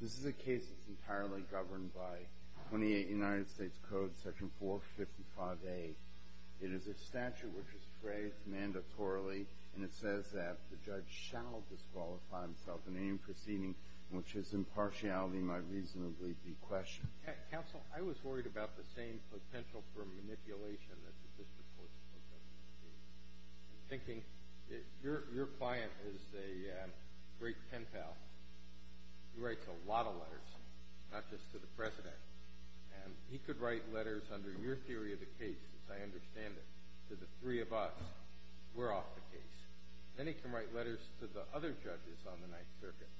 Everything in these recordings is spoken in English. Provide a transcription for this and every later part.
This is a case that is entirely governed by United States Code Section 455A. It is a statute which is phrased mandatorily and it says that the judge shall disqualify himself in any proceeding in which his impartiality might reasonably be questioned. Counsel, I was worried about the same potential for manipulation that the district courts are going to be thinking. Your client is a great pen pal. He writes a lot of letters, not just to the President, and he could write letters under your theory of the case, as I understand it, to the three of us. We're off the case. Then he can write letters to the other judges on the Ninth Circuit,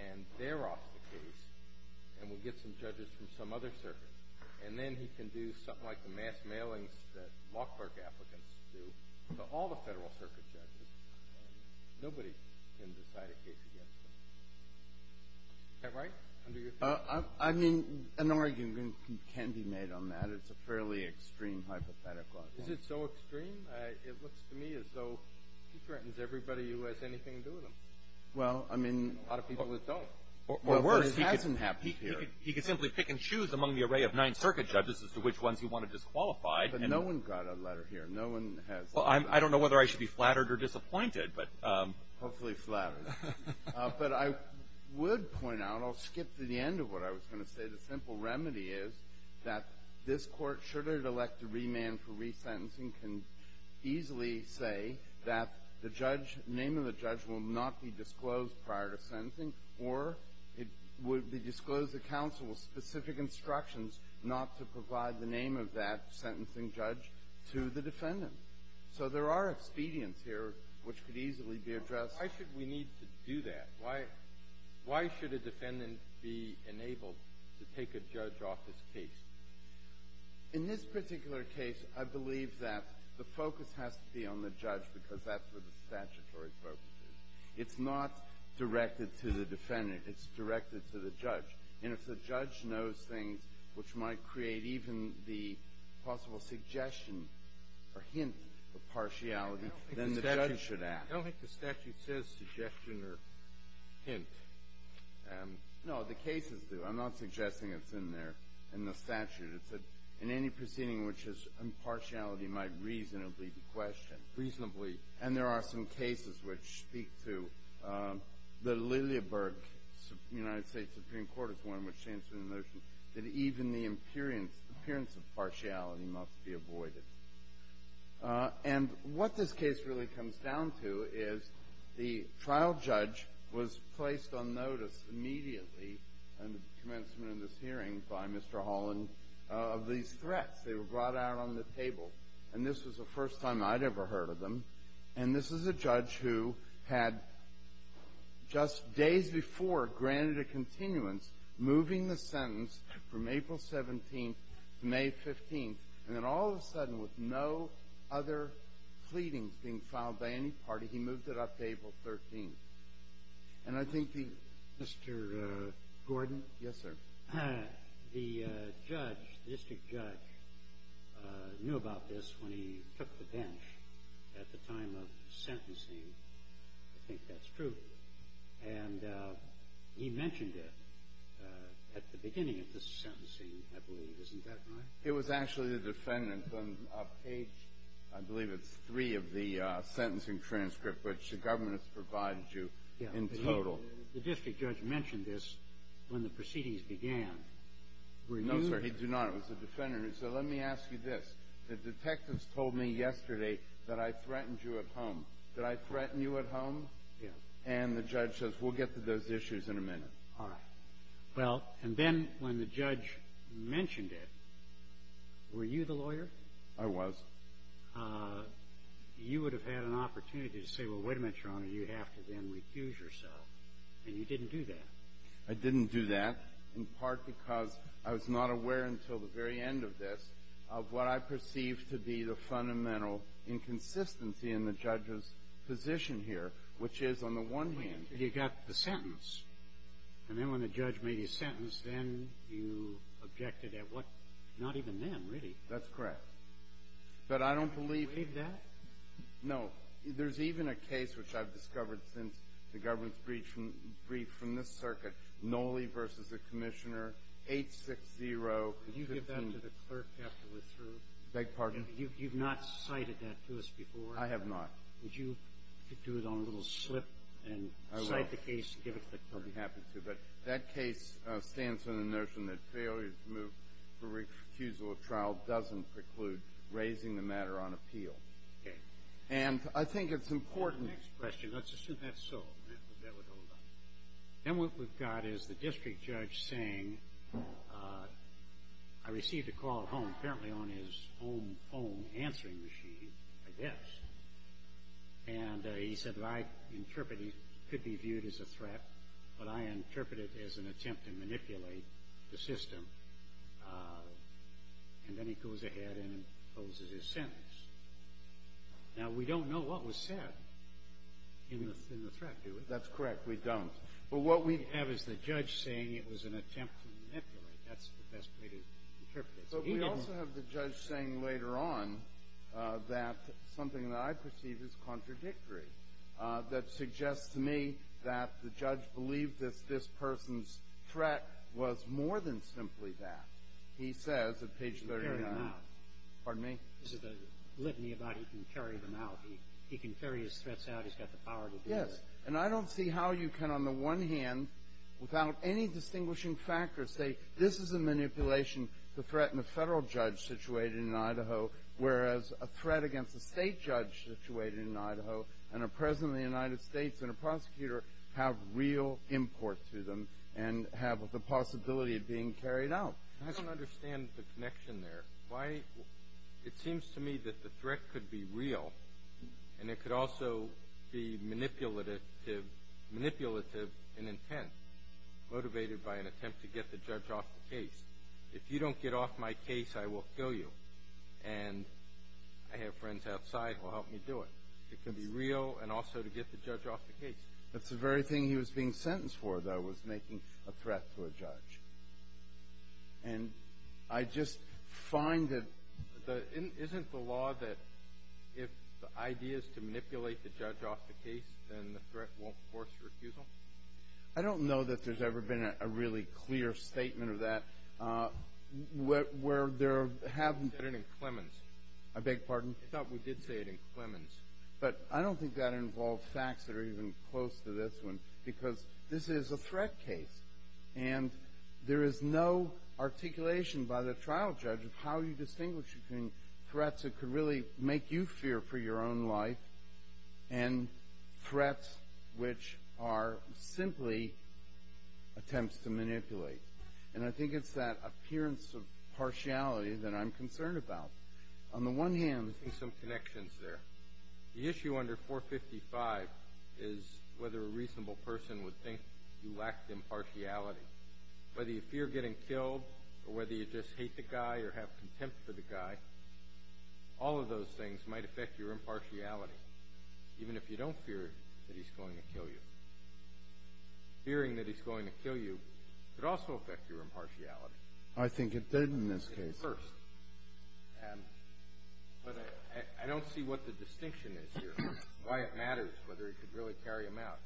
and they're off the case, and we'll get some judges from some other circuit, and then he can do something like the mass mailings that law clerk applicants do to all the Federal Circuit judges, and nobody can decide a case against him. Is that right, under your theory? I mean, an argument can be made on that. It's a fairly extreme hypothetical. Is it so extreme? It looks to me as though he threatens everybody who has anything to do with him. Well, I mean, a lot of people don't. Or worse, he could simply pick and choose among the array of Ninth Circuit judges as to which ones he wanted disqualified. But no one got a letter here. No one has. Well, I don't know whether I should be flattered or disappointed, but... Hopefully flattered. But I would point out, I'll skip to the end of what I was going to say. The simple remedy is that this Court, should it elect a remand for resentencing, can easily say that the judge, the name of the judge will not be disclosed prior to sentencing, or it would disclose the counsel specific instructions not to provide the name of that sentencing judge to the defendant. So there are expedients here which could easily be addressed. Why should we need to do that? Why should a defendant be enabled to take a judge off his case? In this particular case, I believe that the focus has to be on the judge because that's where the statutory focus is. It's not directed to the defendant. It's directed to the judge. And if the judge knows things which might create even the possible suggestion or hint of partiality, then the judge should act. I don't think the statute says suggestion or hint. No, the cases do. I'm not suggesting it's in there, in the statute. It's in any proceeding in which impartiality might reasonably be questioned, reasonably. And there are some cases which speak to the Lilleberg United States Supreme Court is one which stands for the notion that even the appearance of partiality must be avoided. And what this case really comes down to is the trial judge was placed on notice immediately at the commencement of this hearing by Mr. Holland of these threats. They were brought out on the table. And this was the first time I'd ever heard of them. And this is a judge who had just days before granted a continuance, moving the sentence from April 17th to May 15th, and then all of a sudden, with no other pleadings being filed by any party, he moved it up to April 13th. And I think the Mr. Gordon. Yes, sir. The judge, the district judge, knew about this when he took the bench at the time of sentencing. I think that's true. And he mentioned it at the beginning of this sentencing, I believe. Isn't that right? It was actually the defendant on page, I believe it's three of the sentencing transcript, which the government has provided you in total. The district judge mentioned this when the proceedings began. No, sir, he did not. It was the defendant. So let me ask you this. The detectives told me yesterday that I threatened you at home. Did I threaten you at home? Yes. And the judge says, we'll get to those issues in a minute. All right. Well, and then when the judge mentioned it, were you the lawyer? I was. Well, you would have had an opportunity to say, well, wait a minute, Your Honor, you have to then refuse yourself. And you didn't do that. I didn't do that, in part because I was not aware until the very end of this of what I perceived to be the fundamental inconsistency in the judge's position here, which is, on the one hand, you got the sentence. And then when the judge made his sentence, then you objected at what? Not even then, really. That's correct. But I don't believe that. No. There's even a case, which I've discovered since the government's brief from this circuit, Nolley v. the Commissioner, 860. Could you give that to the clerk after we're through? I beg your pardon? You've not cited that to us before. I have not. Could you do it on a little slip and cite the case and give it to the clerk? I'd be happy to. But that case stands on the notion that failure to move for refusal of trial doesn't preclude raising the matter on appeal. Okay. And I think it's important. Next question. Let's assume that's solved. That would hold up. Then what we've got is the district judge saying, I received a call at home, apparently on his own answering machine, I guess. And he said that I interpret it could be viewed as a threat, but I interpret it as an attempt to manipulate the system. And then he goes ahead and imposes his sentence. Now, we don't know what was said in the threat, do we? That's correct. We don't. But what we have is the judge saying it was an attempt to manipulate. That's the best way to interpret it. But we also have the judge saying later on that something that I perceive is contradictory, that suggests to me that the judge believed that this person's threat was more than simply that. He says at page 39. He can carry them out. Pardon me? There's a litany about he can carry them out. He can carry his threats out. He's got the power to do it. Yes. And I don't see how you can, on the one hand, without any distinguishing factor, say this is a manipulation to threaten a federal judge situated in the United States and a prosecutor have real import to them and have the possibility of being carried out. I don't understand the connection there. It seems to me that the threat could be real, and it could also be manipulative in intent, motivated by an attempt to get the judge off the case. If you don't get off my case, I will kill you. And I have friends outside who will help me do it. It could be real and also to get the judge off the case. That's the very thing he was being sentenced for, though, was making a threat to a judge. And I just find that the – Isn't the law that if the idea is to manipulate the judge off the case, then the threat won't force your accusal? I don't know that there's ever been a really clear statement of that where there haven't – You said it in Clemens. I beg your pardon? I thought we did say it in Clemens. But I don't think that involves facts that are even close to this one because this is a threat case, and there is no articulation by the trial judge of how you distinguish between threats that could really make you fear for your own life and threats which are simply attempts to manipulate. And I think it's that appearance of partiality that I'm concerned about. On the one hand, there's some connections there. The issue under 455 is whether a reasonable person would think you lacked impartiality, whether you fear getting killed or whether you just hate the guy or have contempt for the guy. All of those things might affect your impartiality, even if you don't fear that he's going to kill you. Fearing that he's going to kill you could also affect your impartiality. I think it did in this case. But I don't see what the distinction is here, why it matters, whether it could really carry him out.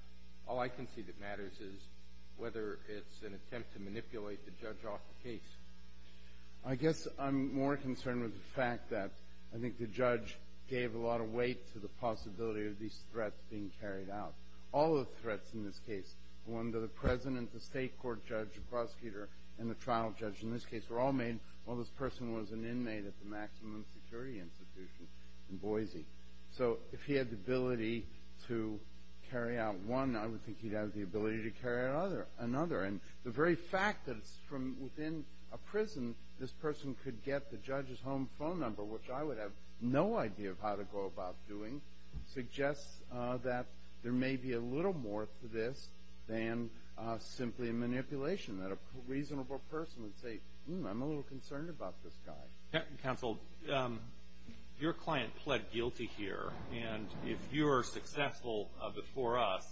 All I can see that matters is whether it's an attempt to manipulate the judge off the case. I guess I'm more concerned with the fact that I think the judge gave a lot of weight to the possibility of these threats being carried out. All the threats in this case, the one to the President, the State Court judge, the prosecutor, and the trial judge in this case were all made while this person was an inmate at the Maximum Security Institution in Boise. So if he had the ability to carry out one, I would think he'd have the ability to carry out another. And the very fact that it's from within a prison, this person could get the judge's home phone number, which I would have no idea of how to go about doing, suggests that there may be a little more to this than simply a manipulation, that a reasonable person would say, I'm a little concerned about this guy. Counsel, your client pled guilty here. And if you're successful before us,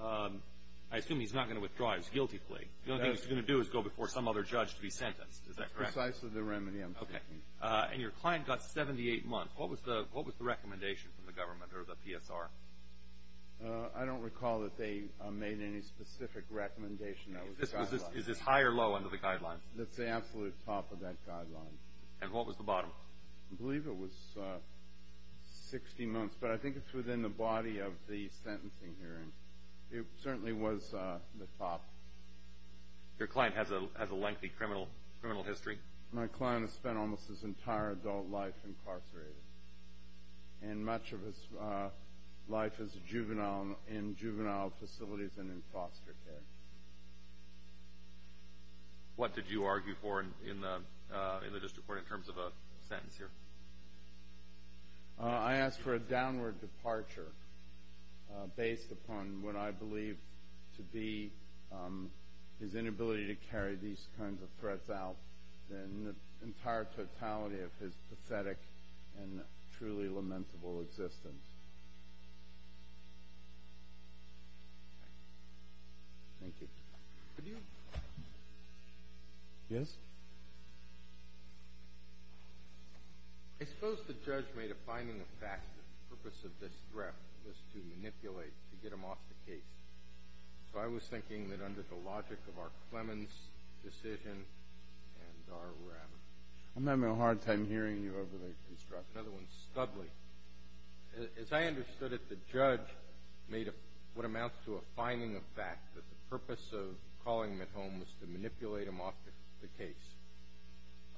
I assume he's not going to withdraw his guilty plea. The only thing he's going to do is go before some other judge to be sentenced. Is that correct? Precisely the remedy I'm seeking. Okay. And your client got 78 months. What was the recommendation from the government or the PSR? I don't recall that they made any specific recommendation. Is this high or low under the guidelines? That's the absolute top of that guideline. And what was the bottom? I believe it was 60 months, but I think it's within the body of the sentencing hearing. It certainly was the top. Your client has a lengthy criminal history? My client has spent almost his entire adult life incarcerated, and much of his life is in juvenile facilities and in foster care. What did you argue for in the district court in terms of a sentence here? I asked for a downward departure based upon what I believe to be his inability to carry these kinds of threats out in the entire totality of his pathetic and truly lamentable existence. Thank you. Could you? Yes? I suppose the judge made a finding of fact that the purpose of this threat was to manipulate, to get him off the case. So I was thinking that under the logic of our Clemens decision and our rem. I'm having a hard time hearing you over the construction. Another one is Studley. As I understood it, the judge made what amounts to a finding of fact that the purpose of calling him at home was to manipulate him off the case.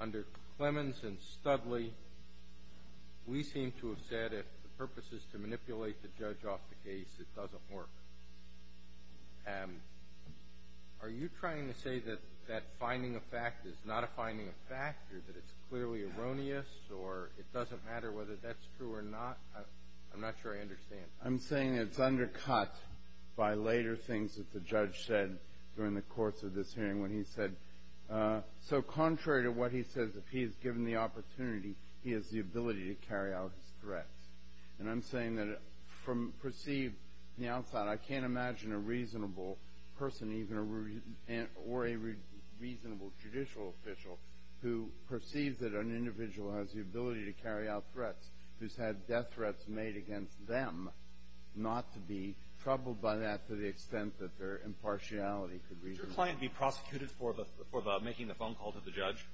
Under Clemens and Studley, we seem to have said if the purpose is to manipulate the judge off the case, it doesn't work. Are you trying to say that that finding of fact is not a finding of fact or that it's clearly erroneous or it doesn't matter whether that's true or not? I'm not sure I understand. I'm saying it's undercut by later things that the judge said during the course of this hearing when he said, so contrary to what he says, if he is given the opportunity, he has the ability to carry out his threats. And I'm saying that from perceived on the outside, I can't imagine a reasonable person or a reasonable judicial official who perceives that an individual has the ability to carry out threats, who's had death threats made against them, not to be troubled by that to the extent that their impartiality could reasonably be. Could your client be prosecuted for making the phone call to the judge?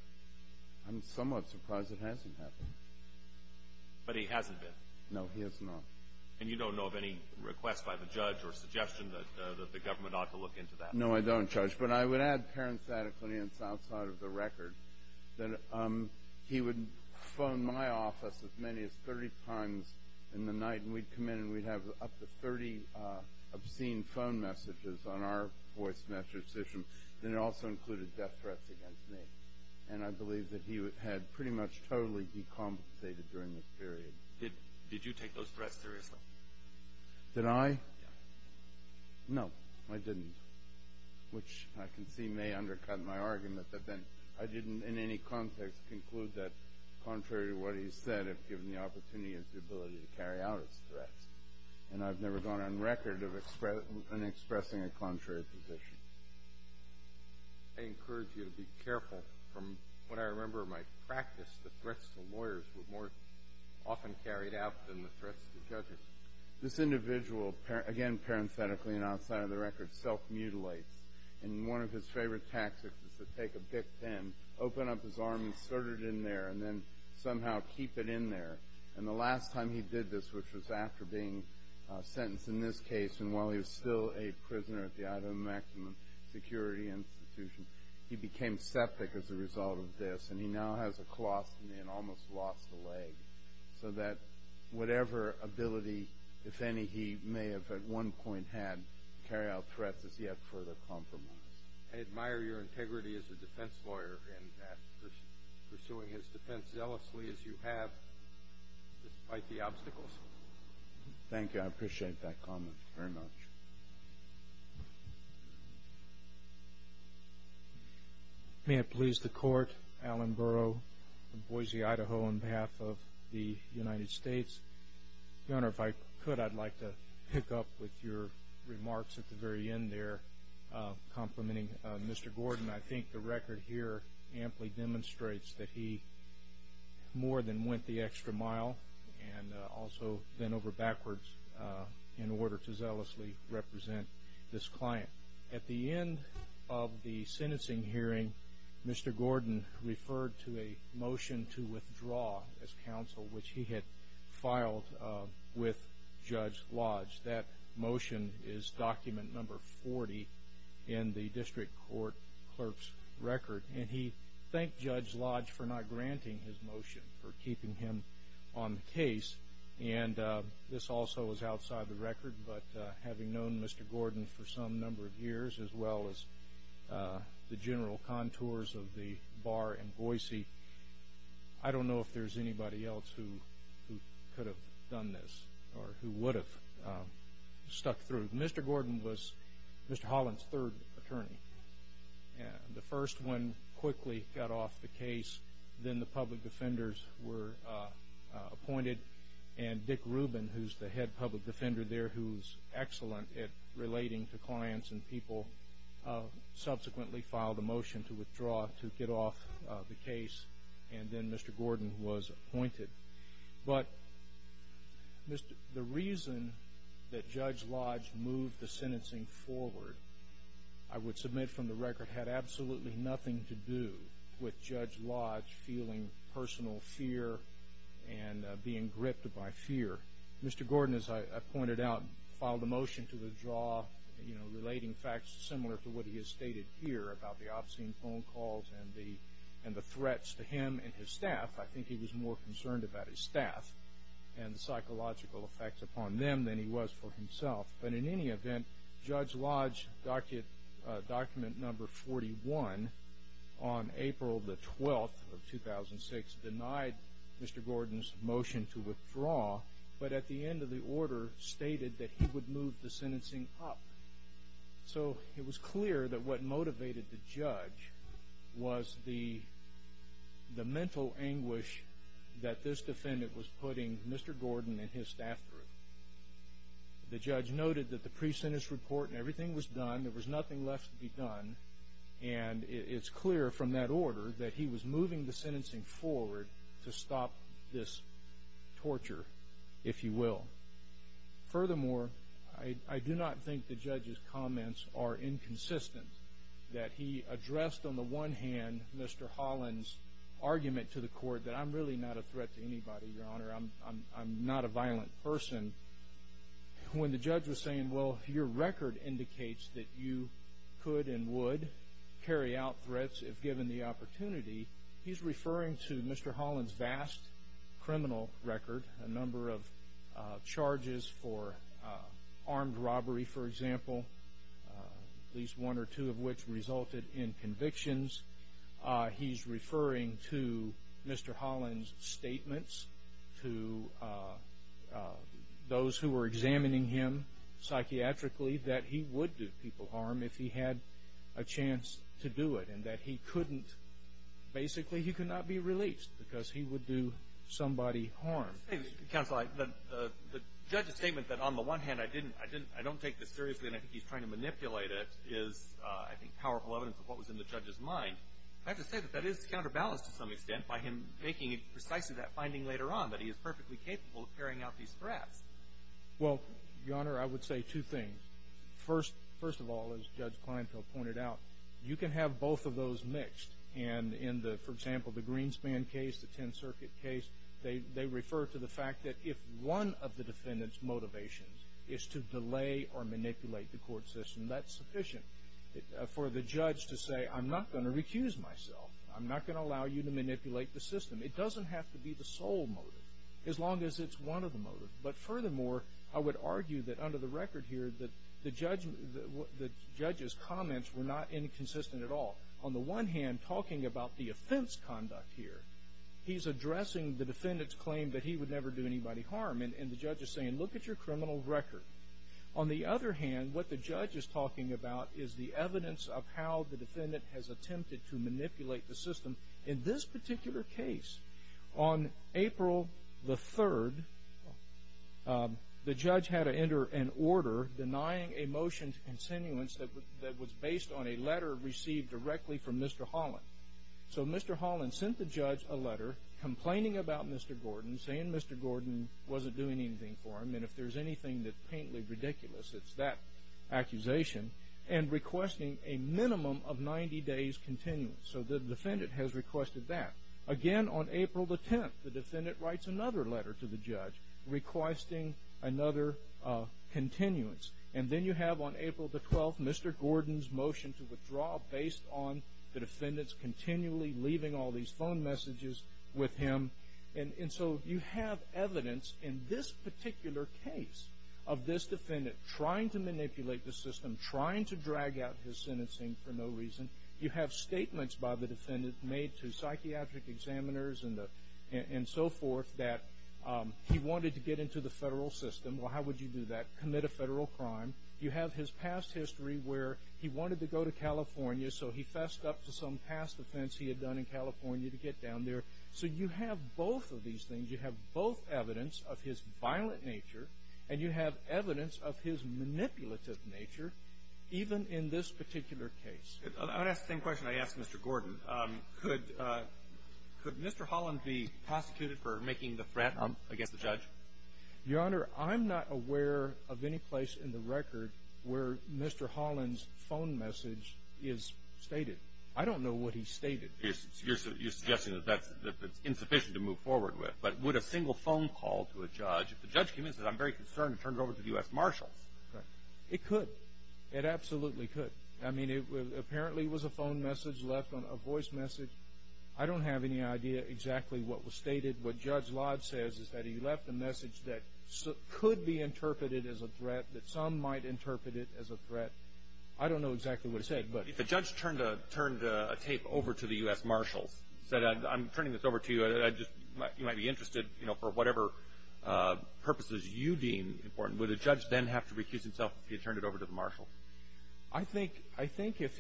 I'm somewhat surprised it hasn't happened. But he hasn't been? No, he has not. And you don't know of any request by the judge or suggestion that the government ought to look into that? No, I don't, Judge. But I would add parenthetically, and it's outside of the record, that he would phone my office as many as 30 times in the night, and we'd come in and we'd have up to 30 obscene phone messages on our voice message system, and it also included death threats against me. And I believe that he had pretty much totally decompensated during this period. Did you take those threats seriously? Did I? Yes. No, I didn't, which I can see may undercut my argument, but then I didn't in any context conclude that contrary to what he said, if given the opportunity, it's the ability to carry out its threats. And I've never gone on record of expressing a contrary position. I encourage you to be careful. From what I remember of my practice, the threats to lawyers were more often carried out than the threats to judges. This individual, again parenthetically and outside of the record, self-mutilates, and one of his favorite tactics is to take a BIC pen, open up his arm, insert it in there, and then somehow keep it in there. And the last time he did this, which was after being sentenced in this case, and while he was still a prisoner at the Idaho Maximum Security Institution, he became septic as a result of this, and he now has a colostomy and almost lost a leg, so that whatever ability, if any, he may have at one point had to carry out threats is yet further compromised. I admire your integrity as a defense lawyer Thank you. I appreciate that comment very much. May it please the Court. Alan Burrow, Boise, Idaho, on behalf of the United States. Your Honor, if I could, I'd like to pick up with your remarks at the very end there complimenting Mr. Gordon. I think the record here amply demonstrates that he more than went the extra mile and also went over backwards in order to zealously represent this client. At the end of the sentencing hearing, Mr. Gordon referred to a motion to withdraw as counsel, which he had filed with Judge Lodge. That motion is document number 40 in the district court clerk's record, and he thanked Judge Lodge for not granting his motion, for keeping him on the case, and this also is outside the record, but having known Mr. Gordon for some number of years, as well as the general contours of the bar in Boise, I don't know if there's anybody else who could have done this or who would have stuck through. Mr. Gordon was Mr. Holland's third attorney. The first one quickly got off the case. Then the public defenders were appointed, and Dick Rubin, who's the head public defender there, who's excellent at relating to clients and people, subsequently filed a motion to withdraw to get off the case, and then Mr. Gordon was appointed. But the reason that Judge Lodge moved the sentencing forward, I would submit from the record, had absolutely nothing to do with Judge Lodge feeling personal fear and being gripped by fear. Mr. Gordon, as I pointed out, filed a motion to withdraw, relating facts similar to what he has stated here about the obscene phone calls and the threats to him and his staff. I think he was more concerned about his staff and the psychological effects upon them than he was for himself. But in any event, Judge Lodge, document number 41, on April 12, 2006, denied Mr. Gordon's motion to withdraw, but at the end of the order stated that he would move the sentencing up. So it was clear that what motivated the judge was the mental anguish that this defendant was putting Mr. Gordon and his staff through. The judge noted that the pre-sentence report and everything was done, there was nothing left to be done, and it's clear from that order that he was moving the sentencing forward to stop this torture, if you will. Furthermore, I do not think the judge's comments are inconsistent, that he addressed on the one hand Mr. Holland's argument to the court that I'm really not a threat to anybody, Your Honor, I'm not a violent person. When the judge was saying, well, your record indicates that you could and would carry out threats if given the opportunity, he's referring to Mr. Holland's vast criminal record, a number of charges for armed robbery, for example, at least one or two of which resulted in convictions. He's referring to Mr. Holland's statements to those who were examining him psychiatrically that he would do people harm if he had a chance to do it and that he couldn't, basically he could not be released because he would do somebody harm. Counsel, the judge's statement that on the one hand I don't take this seriously and I think he's trying to manipulate it is, I think, powerful evidence of what was in the judge's mind. I have to say that that is counterbalanced to some extent by him making it precisely that finding later on that he is perfectly capable of carrying out these threats. Well, Your Honor, I would say two things. First of all, as Judge Kleinfeld pointed out, you can have both of those mixed and in the, for example, the Greenspan case, the Tenth Circuit case, they refer to the fact that if one of the defendant's motivations is to delay or manipulate the court system, that's sufficient for the judge to say, I'm not going to recuse myself. I'm not going to allow you to manipulate the system. It doesn't have to be the sole motive as long as it's one of the motives. But furthermore, I would argue that under the record here that the judge's comments were not inconsistent at all. On the one hand, talking about the offense conduct here, he's addressing the defendant's claim that he would never do anybody harm and the judge is saying, look at your criminal record. On the other hand, what the judge is talking about is the evidence of how the defendant has attempted to manipulate the system. In this particular case, on April the 3rd, the judge had to enter an order denying a motion to continuance that was based on a letter received directly from Mr. Holland. So Mr. Holland sent the judge a letter complaining about Mr. Gordon, saying Mr. Gordon wasn't doing anything for him and if there's anything that's painfully ridiculous, it's that accusation, and requesting a minimum of 90 days continuance. So the defendant has requested that. Again, on April the 10th, the defendant writes another letter to the judge requesting another continuance. And then you have on April the 12th Mr. Gordon's motion to withdraw based on the defendant's continually leaving all these phone messages with him. And so you have evidence in this particular case of this defendant trying to manipulate the system, trying to drag out his sentencing for no reason. You have statements by the defendant made to psychiatric examiners and so forth that he wanted to get into the federal system. Well, how would you do that? Commit a federal crime. You have his past history where he wanted to go to California so he fessed up to some past offense he had done in California to get down there. So you have both of these things. You have both evidence of his violent nature and you have evidence of his manipulative nature even in this particular case. I would ask the same question I asked Mr. Gordon. Could Mr. Holland be prosecuted for making the threat against the judge? Your Honor, I'm not aware of any place in the record where Mr. Holland's phone message is stated. I don't know what he stated. You're suggesting that that's insufficient to move forward with. But would a single phone call to a judge, if the judge came in and said I'm very concerned and turned it over to the U.S. Marshals? It could. It absolutely could. I mean, apparently it was a phone message left on a voice message. I don't have any idea exactly what was stated. What Judge Lodge says is that he left a message that could be interpreted as a threat, that some might interpret it as a threat. I don't know exactly what he said. If a judge turned a tape over to the U.S. Marshals, said I'm turning this over to you, you might be interested for whatever purposes you deem important, would a judge then have to recuse himself if he had turned it over to the Marshals? I think if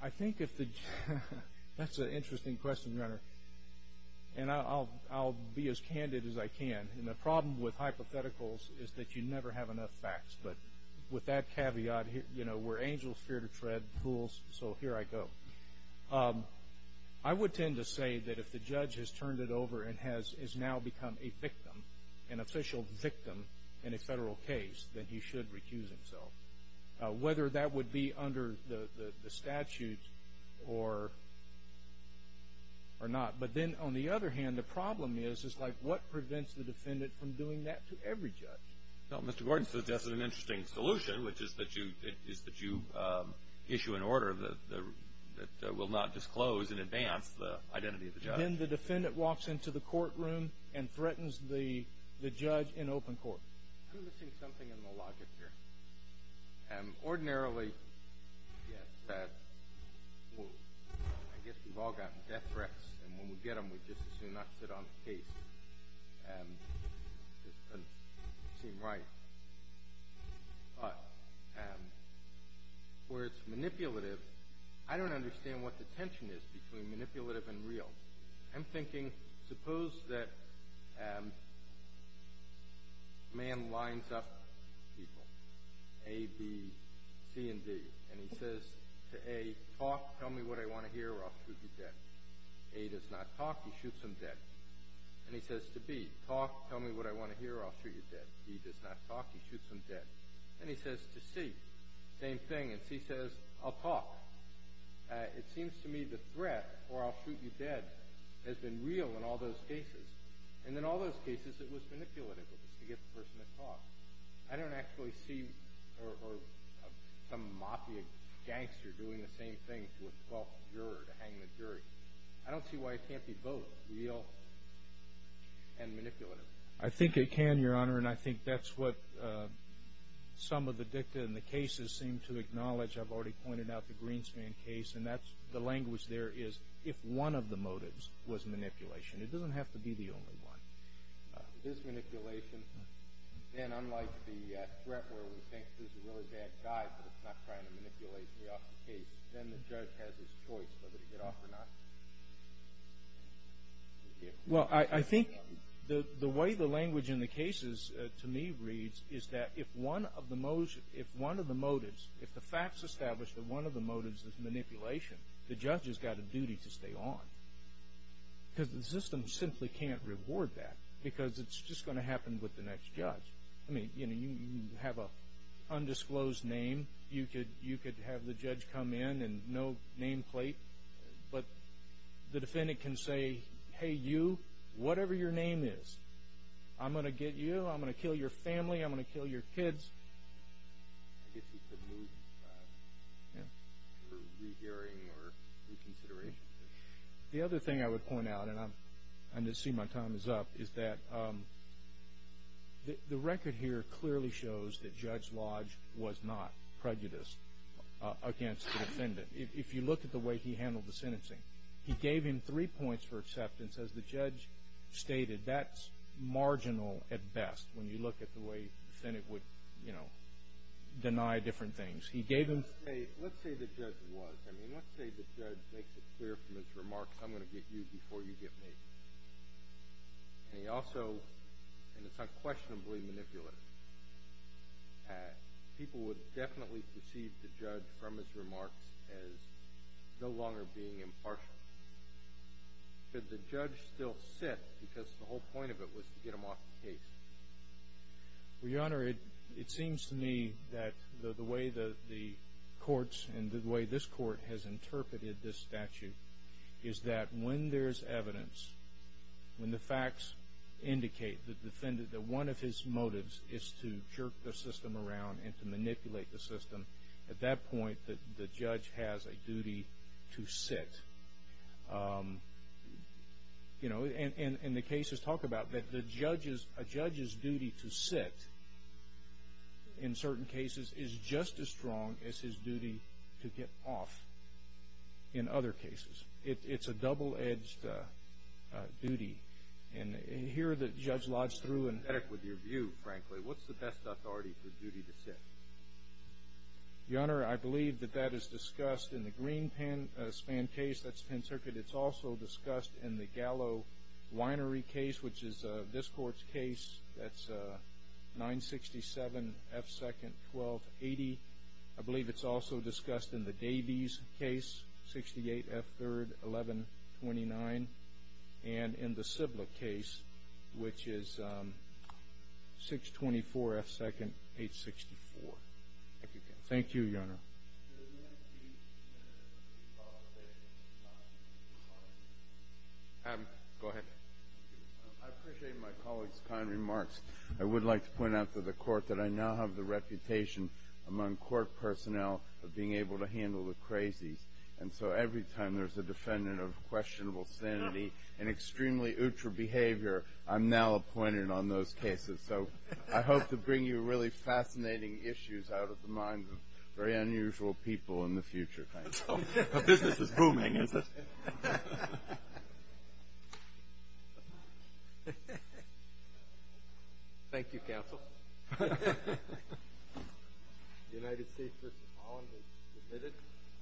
he—I think if the—that's an interesting question, Your Honor. And I'll be as candid as I can. And the problem with hypotheticals is that you never have enough facts. But with that caveat, you know, we're angels fear to tread pools, so here I go. I would tend to say that if the judge has turned it over and has now become a victim, an official victim in a federal case, that he should recuse himself, whether that would be under the statute or not. But then, on the other hand, the problem is, is like what prevents the defendant from doing that to every judge? Well, Mr. Gordon, so that's an interesting solution, which is that you issue an order that will not disclose in advance the identity of the judge. Then the defendant walks into the courtroom and threatens the judge in open court. I'm missing something in the logic here. Ordinarily, yes, I guess we've all gotten death threats, and when we get them, we just assume not to sit on the case. It doesn't seem right. But where it's manipulative, I don't understand what the tension is between manipulative and real. I'm thinking, suppose that a man lines up people, A, B, C, and D, and he says to A, talk, tell me what I want to hear, or I'll shoot you dead. A does not talk, he shoots him dead. And he says to B, talk, tell me what I want to hear, or I'll shoot you dead. B does not talk, he shoots him dead. And he says to C, same thing, and C says, I'll talk. It seems to me the threat, or I'll shoot you dead, has been real in all those cases. And in all those cases, it was manipulative. It was to get the person to talk. I don't actually see some mafia gangster doing the same thing to a false juror to hang the jury. I don't see why it can't be both real and manipulative. I think it can, Your Honor, and I think that's what some of the dicta in the cases seem to acknowledge. I've already pointed out the Greenspan case, and the language there is if one of the motives was manipulation. It doesn't have to be the only one. If it is manipulation, then unlike the threat where we think there's a really bad guy, but it's not trying to manipulate me off the case, then the judge has his choice whether to get off or not. Well, I think the way the language in the cases to me reads is that if one of the motives, if the facts establish that one of the motives is manipulation, the judge has got a duty to stay on. Because the system simply can't reward that because it's just going to happen with the next judge. I mean, you have an undisclosed name. You could have the judge come in and no nameplate, but the defendant can say, hey, you, whatever your name is, I'm going to get you. I'm going to kill your family. I'm going to kill your kids. I guess he could move for rehearing or reconsideration. The other thing I would point out, and I see my time is up, is that the record here clearly shows that Judge Lodge was not prejudiced against the defendant. If you look at the way he handled the sentencing, he gave him three points for acceptance. As the judge stated, that's marginal at best when you look at the way the defendant would, you know, deny different things. He gave him three. Let's say the judge was. I mean, let's say the judge makes it clear from his remarks, I'm going to get you before you get me. And he also, and it's unquestionably manipulative, people would definitely perceive the judge from his remarks as no longer being impartial. Could the judge still sit because the whole point of it was to get him off the case? Well, Your Honor, it seems to me that the way the courts and the way this court has interpreted this statute is that when there's evidence, when the facts indicate the defendant, that one of his motives is to jerk the system around and to manipulate the system, at that point the judge has a duty to sit. You know, and the cases talk about that. A judge's duty to sit in certain cases is just as strong as his duty to get off in other cases. It's a double-edged duty. And here that Judge Lodge threw in. With your view, frankly, what's the best authority for duty to sit? Your Honor, I believe that that is discussed in the Green Pen Span case. That's Pen Circuit. It's also discussed in the Gallo Winery case, which is this court's case. That's 967 F. 2nd, 1280. I believe it's also discussed in the Davies case, 68 F. 3rd, 1129. And in the Sibla case, which is 624 F. 2nd, 864. Thank you, Your Honor. Go ahead. I appreciate my colleague's kind remarks. I would like to point out to the Court that I now have the reputation among Court personnel of being able to handle the crazies. And so every time there's a defendant of questionable sanity and extremely ultra behavior, I'm now appointed on those cases. So I hope to bring you really fascinating issues out of the minds of very unusual people in the future. Thanks. The business is booming, isn't it? Thank you, Counsel. The United States v. Holland is admitted.